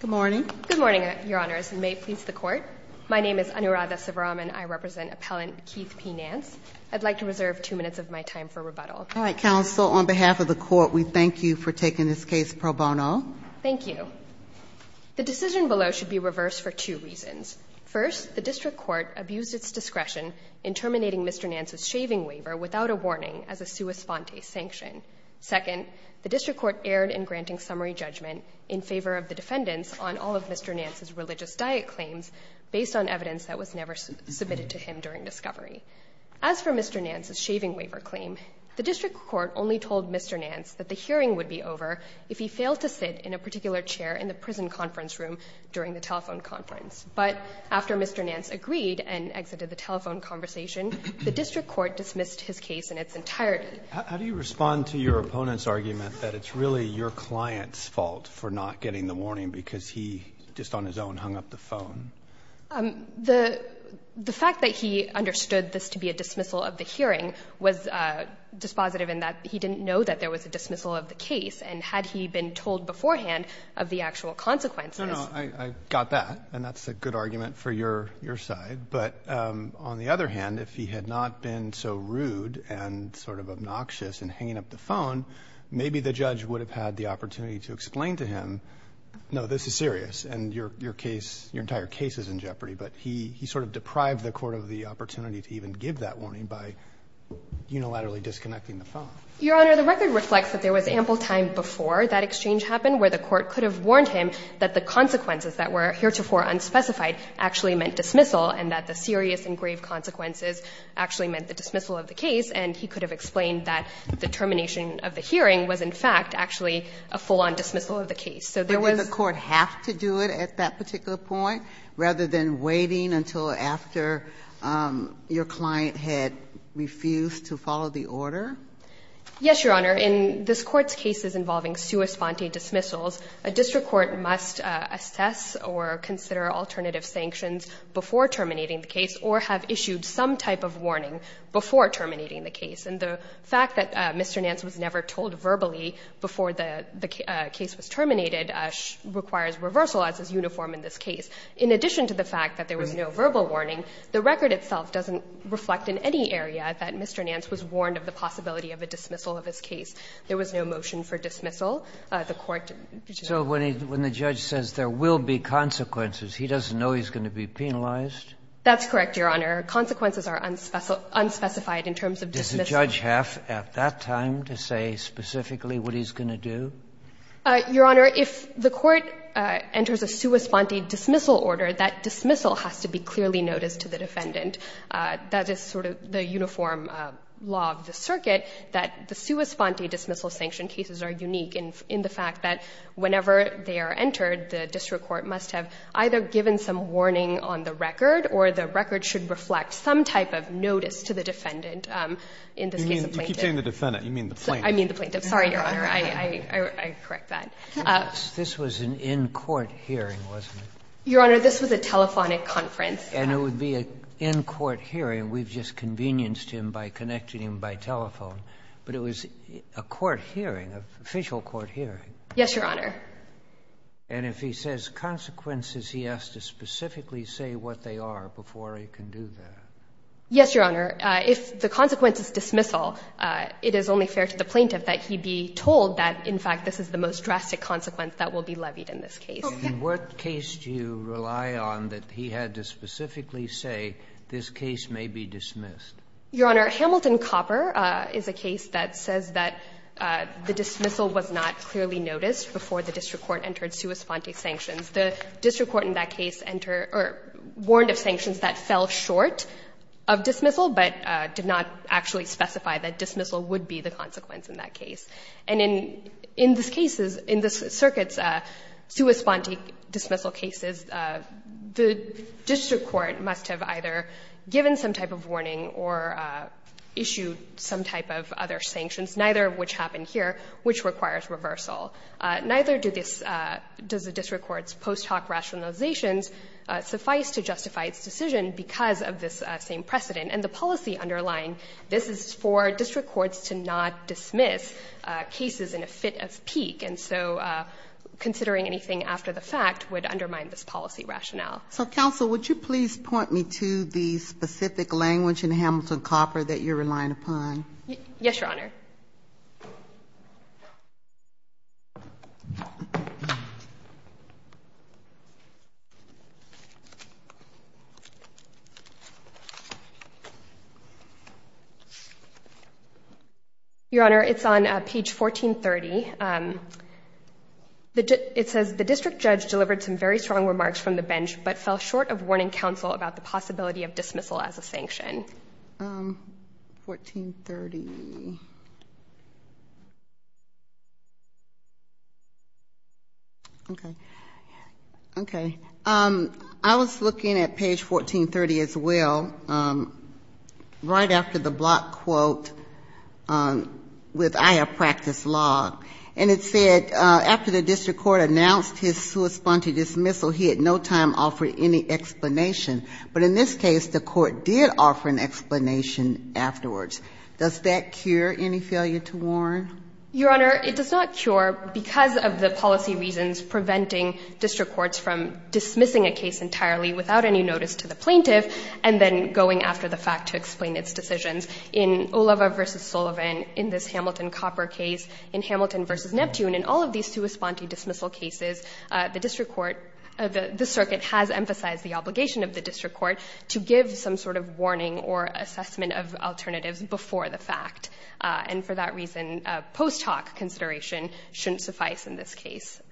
Good morning. Good morning, Your Honors, and may it please the Court. My name is Anuradha Sivaraman. I represent Appellant Keith P. Nance. I'd like to reserve two minutes of my time for rebuttal. All right, Counsel, on behalf of the Court, we thank you for taking this case pro bono. Thank you. The decision below should be reversed for two reasons. First, the District Court abused its discretion in terminating Mr. Nance's shaving waiver without a warning as a sua sponte sanction. Second, the defendants on all of Mr. Nance's religious diet claims based on evidence that was never submitted to him during discovery. As for Mr. Nance's shaving waiver claim, the District Court only told Mr. Nance that the hearing would be over if he failed to sit in a particular chair in the prison conference room during the telephone conference. But after Mr. Nance agreed and exited the telephone conversation, the District Court dismissed his case in its entirety. Roberts, how do you respond to your opponent's argument that it's really your client's fault that he didn't explain the warning because he just on his own hung up the phone? The fact that he understood this to be a dismissal of the hearing was dispositive in that he didn't know that there was a dismissal of the case. And had he been told beforehand of the actual consequences No, no. I got that. And that's a good argument for your side. But on the other hand, if he had not been so rude and sort of obnoxious in hanging up the phone, maybe the judge would have had the opportunity to explain to him, no, this is serious, and your case, your entire case is in jeopardy. But he sort of deprived the Court of the opportunity to even give that warning by unilaterally disconnecting the phone. Your Honor, the record reflects that there was ample time before that exchange happened where the Court could have warned him that the consequences that were heretofore unspecified actually meant dismissal and that the serious and grave consequences actually meant the dismissal of the case, and he could have explained that the termination of the hearing was, in fact, actually a full-on dismissal of the case. So there was But did the Court have to do it at that particular point, rather than waiting until after your client had refused to follow the order? Yes, Your Honor. In this Court's cases involving sua sponte dismissals, a district court must assess or consider alternative sanctions before terminating the case or have issued some type of warning before terminating the case. And the fact that Mr. Nance was never told verbally before the case was terminated requires reversal as is uniform in this case. In addition to the fact that there was no verbal warning, the record itself doesn't reflect in any area that Mr. Nance was warned of the possibility of a dismissal of his case. There was no motion for dismissal. The Court did not. So when the judge says there will be consequences, he doesn't know he's going to be penalized? That's correct, Your Honor. Consequences are unspecified in terms of dismissal. Does the judge have at that time to say specifically what he's going to do? Your Honor, if the Court enters a sua sponte dismissal order, that dismissal has to be clearly noticed to the defendant. That is sort of the uniform law of the circuit, that the sua sponte dismissal sanction cases are unique in the fact that whenever they are entered, the district court must have either given some warning on the record, or the record should reflect some type of notice to the defendant in this case of plaintiff. You keep saying the defendant. You mean the plaintiff. I mean the plaintiff. Sorry, Your Honor. I correct that. This was an in-court hearing, wasn't it? Your Honor, this was a telephonic conference. And it would be an in-court hearing. We've just convenienced him by connecting him by telephone. But it was a court hearing, an official court hearing. Yes, Your Honor. And if he says consequences, he has to specifically say what they are before he can do that? Yes, Your Honor. If the consequence is dismissal, it is only fair to the plaintiff that he be told that, in fact, this is the most drastic consequence that will be levied in this case. Okay. And what case do you rely on that he had to specifically say this case may be dismissed? Your Honor, Hamilton Copper is a case that says that the dismissal was not clearly noticed before the district court entered sua sponte sanctions. The district court in that case warned of sanctions that fell short of dismissal but did not actually specify that dismissal would be the consequence in that case. And in this circuit's sua sponte dismissal cases, the district court must have either given some type of warning or issued some type of other sanctions, neither of which happened here, which requires reversal. Neither does the district court's post hoc rationalizations suffice to justify its decision because of this same precedent. And the policy underlying this is for district courts to not dismiss cases in a fit of pique. And so considering anything after the fact would undermine this policy rationale. So, counsel, would you please point me to the specific language in Hamilton Copper that you're relying upon? Yes, Your Honor. Your Honor, it's on page 1430. It says the district judge delivered some very strong remarks from the bench but fell short of warning counsel about the possibility of dismissal as a sanction. 1430. Okay. Okay. I was looking at page 1430 as well, right after the block quote with I have practiced law. And it said after the district court announced his sua sponte dismissal, he had no time to offer any explanation. But in this case, the court did offer an explanation afterwards. Does that cure any failure to warn? Your Honor, it does not cure because of the policy reasons preventing district courts from dismissing a case entirely without any notice to the plaintiff and then going after the fact to explain its decisions. In Oliva v. Sullivan, in this Hamilton Copper case, in Hamilton v. Neptune, in all of these sua sponte dismissal cases, the district court, the circuit has emphasized the obligation of the district court to give some sort of warning or assessment of alternatives before the fact. And for that reason, post hoc consideration shouldn't suffice in this case.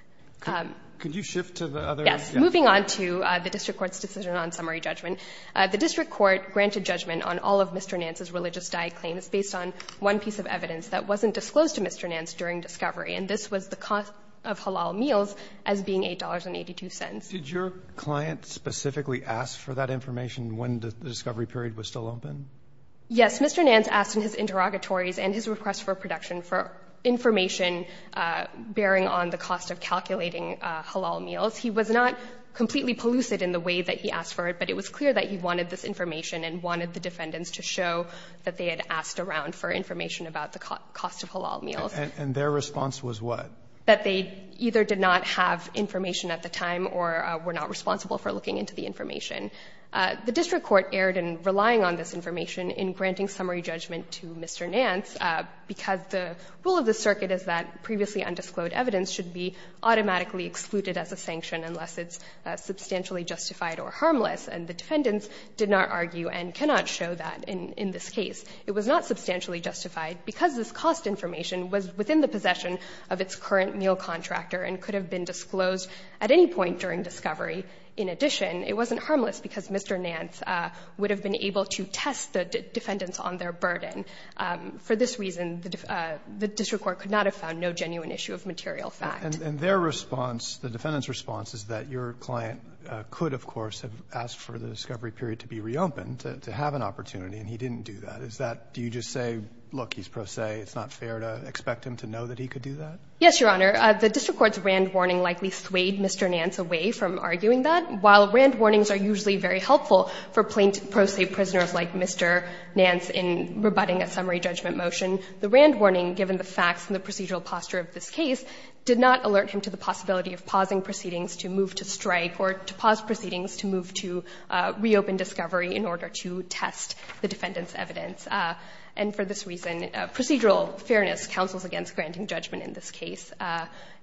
Could you shift to the other? Yes. Moving on to the district court's decision on summary judgment, the district court granted judgment on all of Mr. Nance's religious die claims based on one piece of evidence that wasn't disclosed to Mr. Nance during discovery. And this was the cost of halal meals as being $8.82. Did your client specifically ask for that information when the discovery period was still open? Yes. Mr. Nance asked in his interrogatories and his request for production for information bearing on the cost of calculating halal meals. He was not completely pellucid in the way that he asked for it, but it was clear that he wanted this information and wanted the defendants to show that they had asked around for information about the cost of halal meals. And their response was what? That they either did not have information at the time or were not responsible for looking into the information. The district court erred in relying on this information in granting summary judgment to Mr. Nance because the rule of the circuit is that previously undisclosed evidence should be automatically excluded as a sanction unless it's substantially justified or harmless, and the defendants did not argue and cannot show that in this case. It was not substantially justified because this cost information was within the possession of its current meal contractor and could have been disclosed at any point during discovery. In addition, it wasn't harmless because Mr. Nance would have been able to test the defendants on their burden. For this reason, the district court could not have found no genuine issue of material fact. And their response, the defendant's response is that your client could, of course, have asked for the discovery period to be reopened, to have an opportunity, and he didn't do that. Is that, do you just say, look, he's pro se, it's not fair to expect him to know that he could do that? Yes, Your Honor. The district court's Rand warning likely swayed Mr. Nance away from arguing that. While Rand warnings are usually very helpful for pro se prisoners like Mr. Nance in rebutting a summary judgment motion, the Rand warning, given the facts and the procedural posture of this case, did not alert him to the possibility of pausing proceedings to move to strike or to pause proceedings to move to reopen discovery in order to test the defendant's evidence. And for this reason, procedural fairness counsels against granting judgment in this case.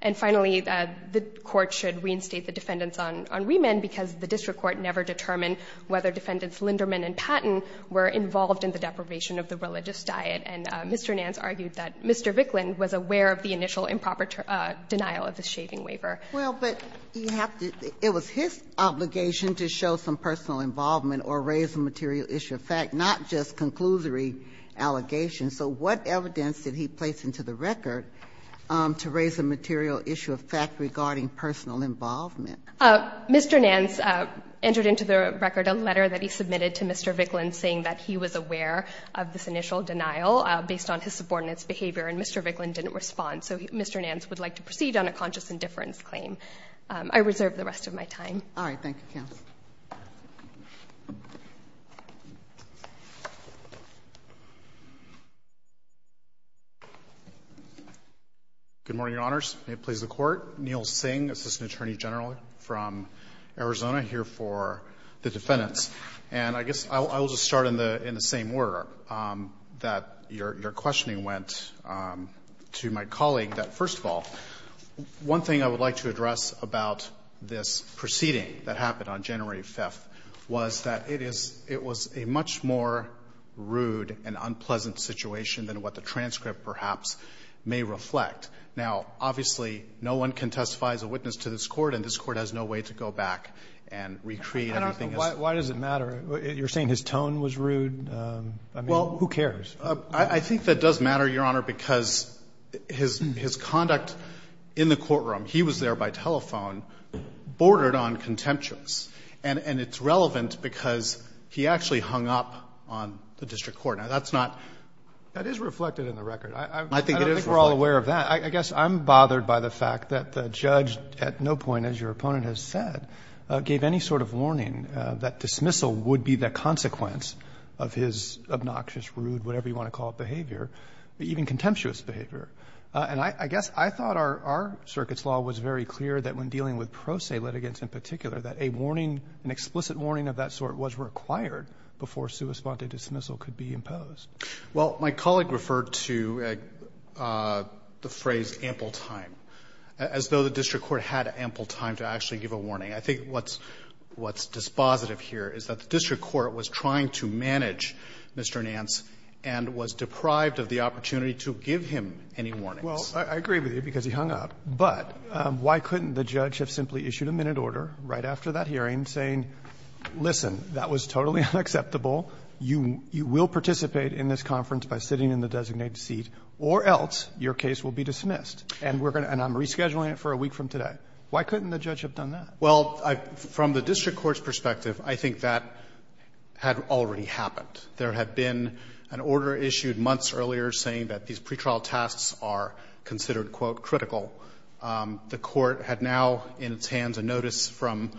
And finally, the court should reinstate the defendants on remand because the district court never determined whether defendants Linderman and Patten were involved in the deprivation of the religious diet. And Mr. Nance argued that Mr. Vicklin was aware of the initial improper denial of the shaving waiver. Well, but you have to – it was his obligation to show some personal involvement or raise a material issue of fact, not just conclusory allegations. So what evidence did he place into the record to raise a material issue of fact regarding personal involvement? Mr. Nance entered into the record a letter that he submitted to Mr. Vicklin saying that he was aware of this initial denial based on his subordinates' behavior, and Mr. Vicklin didn't respond. So Mr. Nance would like to proceed on a conscious indifference claim. I reserve the rest of my time. All right. Thank you, counsel. Good morning, Your Honors. May it please the Court. Neil Singh, Assistant Attorney General from Arizona here for the defendants. And I guess I will just start in the same order that your questioning went to my colleague, that first of all, one thing I would like to address about this proceeding that happened on January 5th was that it is – it was a much more rude and unpleasant situation than what the transcript perhaps may reflect. Now, obviously, no one can testify as a witness to this Court, and this Court has no way to go back and recreate everything as it was. Why does it matter? You're saying his tone was rude? I mean, who cares? I think that does matter, Your Honor, because his conduct in the courtroom, he was there by telephone, bordered on contemptuous. And it's relevant because he actually hung up on the district court. Now, that's not – That is reflected in the record. I don't think we're all aware of that. I guess I'm bothered by the fact that the judge at no point, as your opponent has said, gave any sort of warning that dismissal would be the consequence of his obnoxious, rude, whatever you want to call it, behavior, even contemptuous behavior. And I guess I thought our circuit's law was very clear that when dealing with pro se litigants in particular, that a warning, an explicit warning of that sort was required before sua sponte dismissal could be imposed. Well, my colleague referred to the phrase ample time, as though the district court had ample time to actually give a warning. I think what's – what's dispositive here is that the district court was trying to manage Mr. Nance and was deprived of the opportunity to give him any warnings. Well, I agree with you because he hung up. But why couldn't the judge have simply issued a minute order right after that hearing saying, listen, that was totally unacceptable, you will participate in this conference by sitting in the designated seat, or else your case will be dismissed, and we're going to – and I'm rescheduling it for a week from today. Why couldn't the judge have done that? Well, from the district court's perspective, I think that had already happened. There had been an order issued months earlier saying that these pretrial tasks are considered, quote, critical. The court had now in its hands a notice from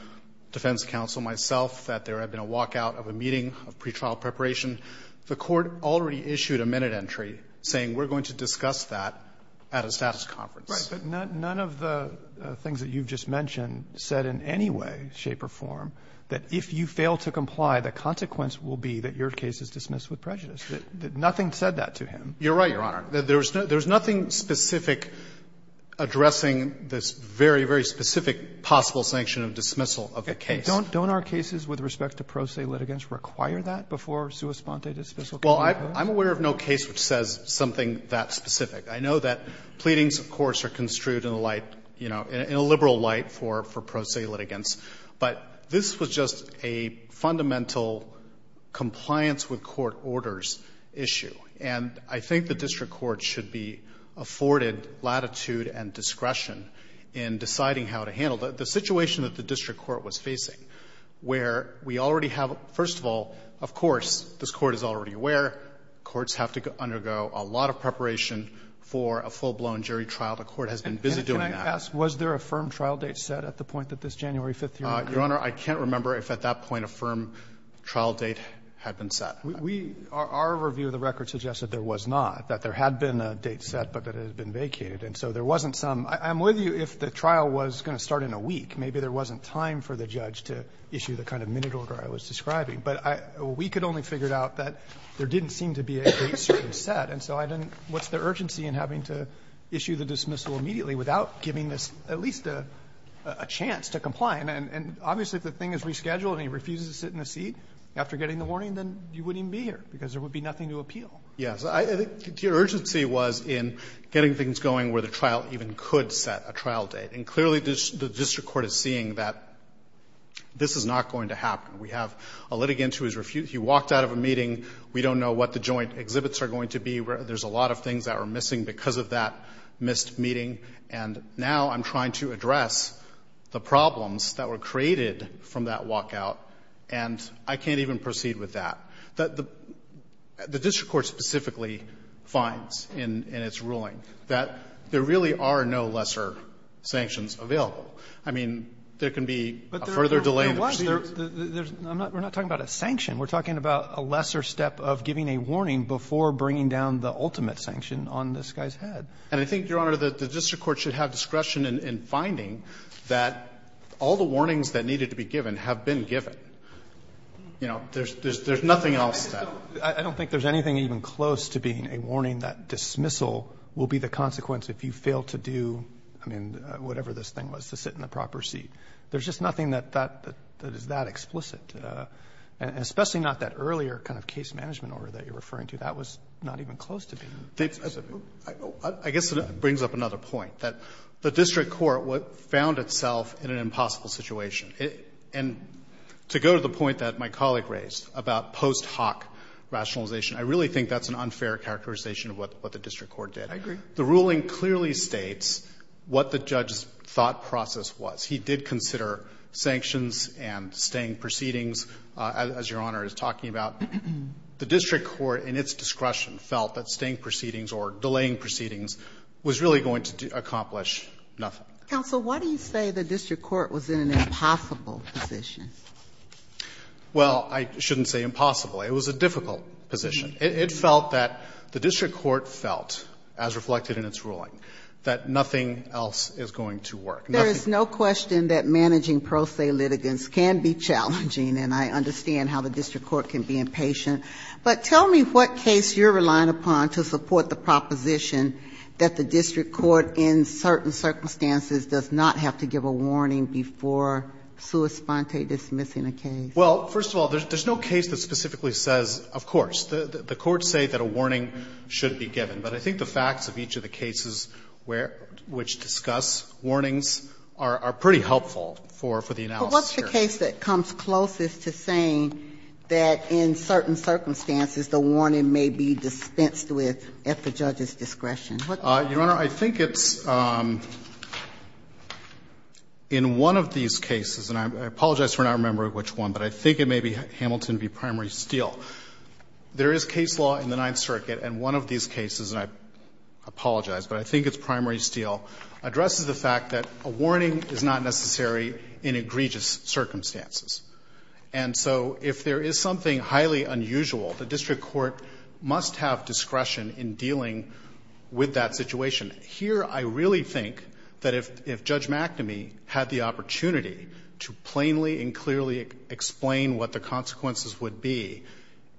defense counsel, myself, that there had been a walkout of a meeting of pretrial preparation. The court already issued a minute entry saying we're going to discuss that at a status conference. But none of the things that you've just mentioned said in any way, shape or form, that if you fail to comply, the consequence will be that your case is dismissed with prejudice. Nothing said that to him. You're right, Your Honor. There's nothing specific addressing this very, very specific possible sanction of dismissal of the case. Don't our cases with respect to pro se litigants require that before sua sponte dismissal? Well, I'm aware of no case which says something that specific. I know that pleadings, of course, are construed in a light, you know, in a liberal light for pro se litigants. But this was just a fundamental compliance with court orders issue. And I think the district court should be afforded latitude and discretion in deciding how to handle it. The situation that the district court was facing, where we already have, first of all, of course, this court is already aware, courts have to undergo a lot of preparation for a full-blown jury trial. The court has been busy doing that. And can I ask, was there a firm trial date set at the point that this January 5th hearing occurred? Your Honor, I can't remember if at that point a firm trial date had been set. We are, our review of the record suggested there was not, that there had been a date set, but that it had been vacated. And so there wasn't some. I'm with you if the trial was going to start in a week. Maybe there wasn't time for the judge to issue the kind of minute order I was describing. But I, we could only figure out that there didn't seem to be a date certain set. And so I didn't, what's the urgency in having to issue the dismissal immediately without giving this at least a chance to comply? And obviously, if the thing is rescheduled and he refuses to sit in the seat after getting the warning, then you wouldn't even be here, because there would be nothing to appeal. Yes. I think the urgency was in getting things going where the trial even could set a trial date. And clearly, the district court is seeing that this is not going to happen. We have a litigant who is refused, he walked out of a meeting, we don't know what the joint exhibits are going to be, there's a lot of things that are missing because of that missed meeting, and now I'm trying to address the problems that were created from that walkout, and I can't even proceed with that. The district court specifically finds in its ruling that there really are no lesser sanctions available. I mean, there can be a further delay in the proceedings. But there was. There's, I'm not, we're not talking about a sanction. We're talking about a lesser step of giving a warning before bringing down the ultimate sanction on this guy's head. And I think, Your Honor, the district court should have discretion in finding that all the warnings that needed to be given have been given. You know, there's nothing else that. I don't think there's anything even close to being a warning that dismissal will be the consequence if you fail to do, I mean, whatever this thing was, to sit in the proper seat. There's just nothing that is that explicit. And especially not that earlier kind of case management order that you're referring to. That was not even close to being explicit. I guess it brings up another point, that the district court found itself in an impossible situation. And to go to the point that my colleague raised about post hoc rationalization, I really think that's an unfair characterization of what the district court did. I agree. The ruling clearly states what the judge's thought process was. He did consider sanctions and staying proceedings, as Your Honor is talking about. The district court in its discretion felt that staying proceedings or delaying proceedings was really going to accomplish nothing. Counsel, why do you say the district court was in an impossible position? Well, I shouldn't say impossible. It was a difficult position. It felt that the district court felt, as reflected in its ruling, that nothing else is going to work. There is no question that managing pro se litigants can be challenging, and I understand how the district court can be impatient. But tell me what case you're relying upon to support the proposition that the district court in certain circumstances does not have to give a warning before sua sponte dismissing a case. Well, first of all, there's no case that specifically says, of course. The courts say that a warning should be given. But I think the facts of each of the cases where – which discuss warnings are pretty helpful for the analysis here. But what's the case that comes closest to saying that in certain circumstances the warning may be dispensed with at the judge's discretion? What does that mean? Your Honor, I think it's in one of these cases, and I apologize for not remembering which one, but I think it may be Hamilton v. Primary Steel. There is case law in the Ninth Circuit, and one of these cases, and I apologize, but I think it's Primary Steel, addresses the fact that a warning is not necessary in egregious circumstances. And so if there is something highly unusual, the district court must have discretion in dealing with that situation. Here, I really think that if Judge McNamee had the opportunity to plainly and clearly explain what the consequences would be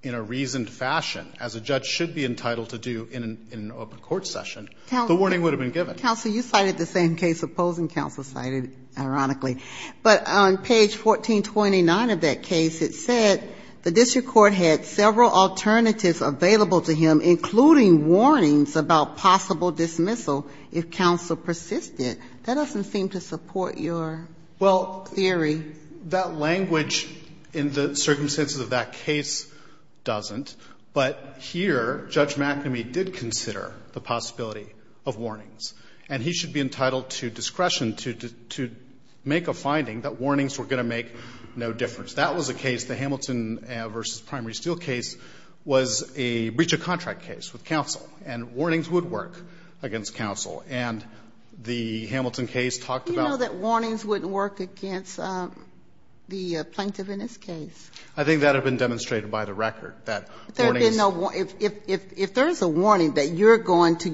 in a reasoned fashion, as a judge should be entitled to do in an open court session, the warning would have been given. Counsel, you cited the same case opposing counsel cited, ironically. But on page 1429 of that case, it said the district court had several alternatives available to him, including warnings about possible dismissal if counsel persisted. That doesn't seem to support your theory. And that language in the circumstances of that case doesn't, but here Judge McNamee did consider the possibility of warnings, and he should be entitled to discretion to make a finding that warnings were going to make no difference. That was a case, the Hamilton v. Primary Steel case, was a breach of contract case with counsel, and warnings would work against counsel. And the Hamilton case talked about that. Warnings wouldn't work against the plaintiff in this case. I think that had been demonstrated by the record, that warnings. If there is a warning that you're going to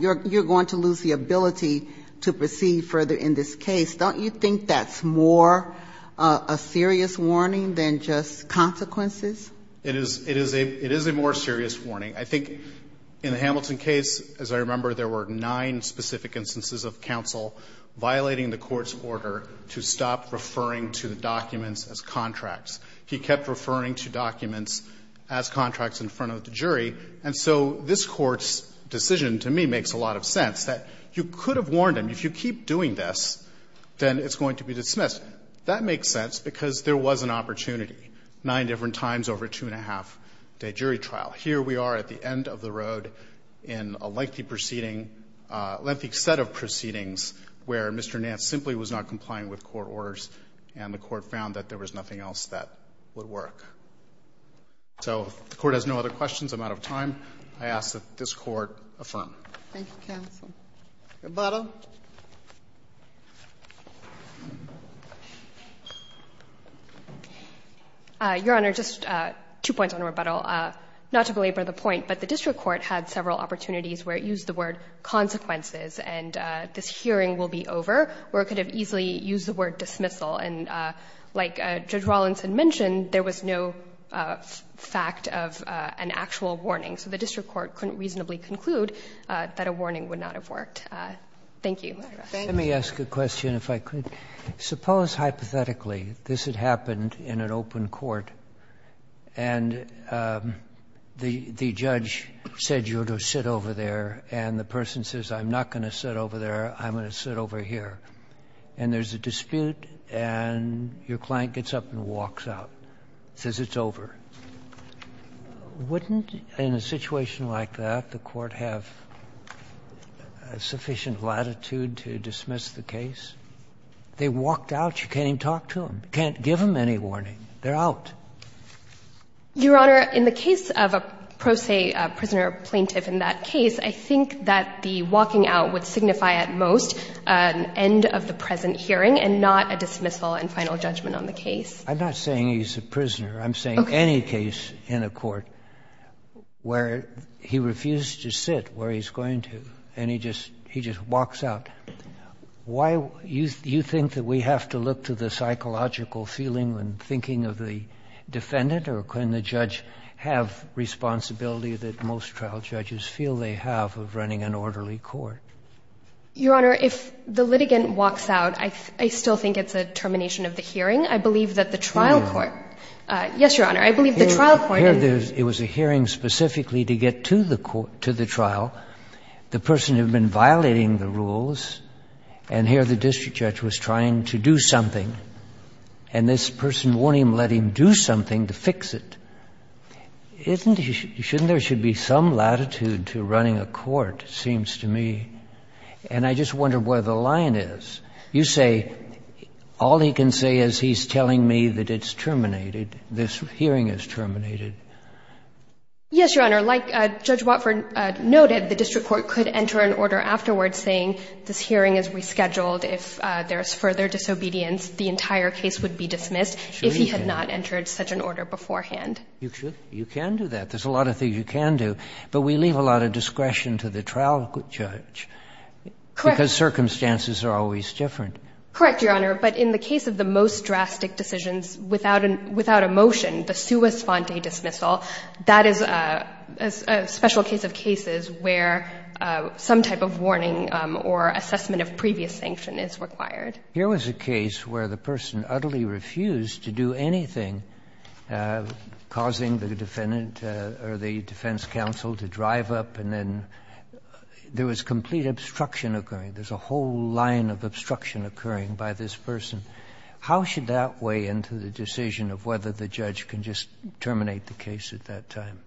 lose the ability to proceed further in this case, don't you think that's more a serious warning than just consequences? It is a more serious warning. I think in the Hamilton case, as I remember, there were nine specific instances of counsel violating the court's order to stop referring to the documents as contracts. He kept referring to documents as contracts in front of the jury, and so this Court's decision, to me, makes a lot of sense, that you could have warned him, if you keep doing this, then it's going to be dismissed. That makes sense, because there was an opportunity, nine different times over a 2-1⁄2-day jury trial. Here we are at the end of the road in a lengthy proceeding, a lengthy set of proceedings, where Mr. Nance simply was not complying with court orders, and the Court found that there was nothing else that would work. So if the Court has no other questions, I'm out of time. I ask that this Court affirm. Thank you, counsel. Rebuttal. Your Honor, just two points on rebuttal. Not to belabor the point, but the district court had several opportunities where it used the word consequences, and this hearing will be over, where it could have easily used the word dismissal. And like Judge Rawlinson mentioned, there was no fact of an actual warning. So the district court couldn't reasonably conclude that a warning would not have worked. Thank you. Let me ask a question, if I could. Suppose, hypothetically, this had happened in an open court, and the judge said you ought to sit over there, and the person says, I'm not going to sit over there, I'm going to sit over here, and there's a dispute, and your client gets up and walks out, says it's over. Wouldn't, in a situation like that, the Court have sufficient latitude to dismiss the case? They walked out, you can't even talk to them. You can't give them any warning. They're out. Your Honor, in the case of a pro se prisoner plaintiff in that case, I think that the walking out would signify at most an end of the present hearing and not a dismissal and final judgment on the case. I'm not saying he's a prisoner. I'm saying any case in a court where he refused to sit where he's going to, and he just walks out. Why do you think that we have to look to the psychological feeling and thinking of the defendant? Or can the judge have responsibility that most trial judges feel they have of running an orderly court? Your Honor, if the litigant walks out, I still think it's a termination of the hearing. I believe that the trial court Yes, Your Honor. I believe the trial court Here, it was a hearing specifically to get to the trial. The person had been violating the rules, and here the district judge was trying to do something. And this person won't even let him do something to fix it. Shouldn't there should be some latitude to running a court, it seems to me? And I just wonder where the line is. You say, all he can say is he's telling me that it's terminated, this hearing is terminated. Yes, Your Honor. Like Judge Watford noted, the district court could enter an order afterwards saying this hearing is rescheduled. If there is further disobedience, the entire case would be dismissed if he had not entered such an order beforehand. You can do that. There's a lot of things you can do. But we leave a lot of discretion to the trial judge. Correct. Because circumstances are always different. Correct, Your Honor. But in the case of the most drastic decisions without a motion, the sua sponte dismissal, that is a special case of cases where some type of warning or assessment of previous sanction is required. Here was a case where the person utterly refused to do anything, causing the defendant or the defense counsel to drive up and then there was complete obstruction occurring. There's a whole line of obstruction occurring by this person. How should that weigh into the decision of whether the judge can just terminate the case at that time?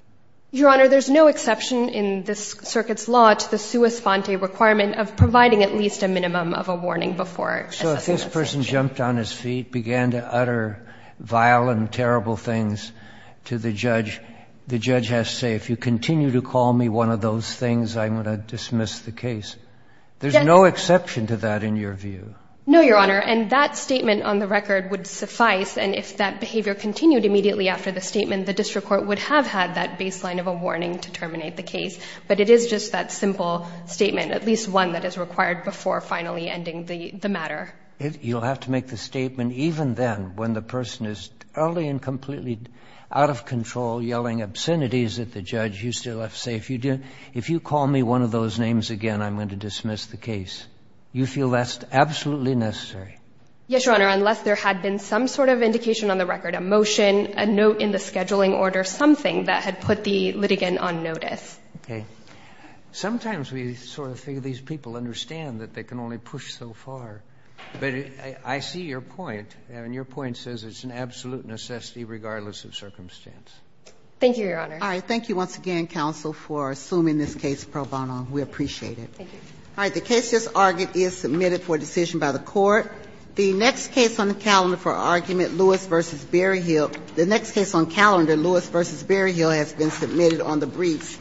Your Honor, there's no exception in this circuit's law to the sua sponte requirement of providing at least a minimum of a warning before assessing a sanction. So if this person jumped on his feet, began to utter vile and terrible things to the judge, the judge has to say, if you continue to call me one of those things, I'm going to dismiss the case. There's no exception to that in your view. No, Your Honor. And that statement on the record would suffice. And if that behavior continued immediately after the statement, the district court would have had that baseline of a warning to terminate the case. But it is just that simple statement, at least one that is required before finally ending the matter. You'll have to make the statement even then when the person is utterly and completely out of control, yelling obscenities at the judge. You still have to say, if you call me one of those names again, I'm going to dismiss the case. You feel that's absolutely necessary? Yes, Your Honor, unless there had been some sort of indication on the record, a motion, a note in the scheduling order, something that had put the litigant on notice. Okay. Sometimes we sort of think these people understand that they can only push so far. But I see your point, and your point says it's an absolute necessity regardless of circumstance. Thank you, Your Honor. All right. We appreciate it. Thank you. All right. The case just argued is submitted for decision by the Court. The next case on the calendar for argument, Lewis v. Berryhill. The next case on calendar, Lewis v. Berryhill, has been submitted on the briefs.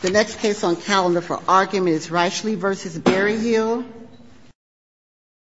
The next case on calendar for argument is Reichle v. Berryhill.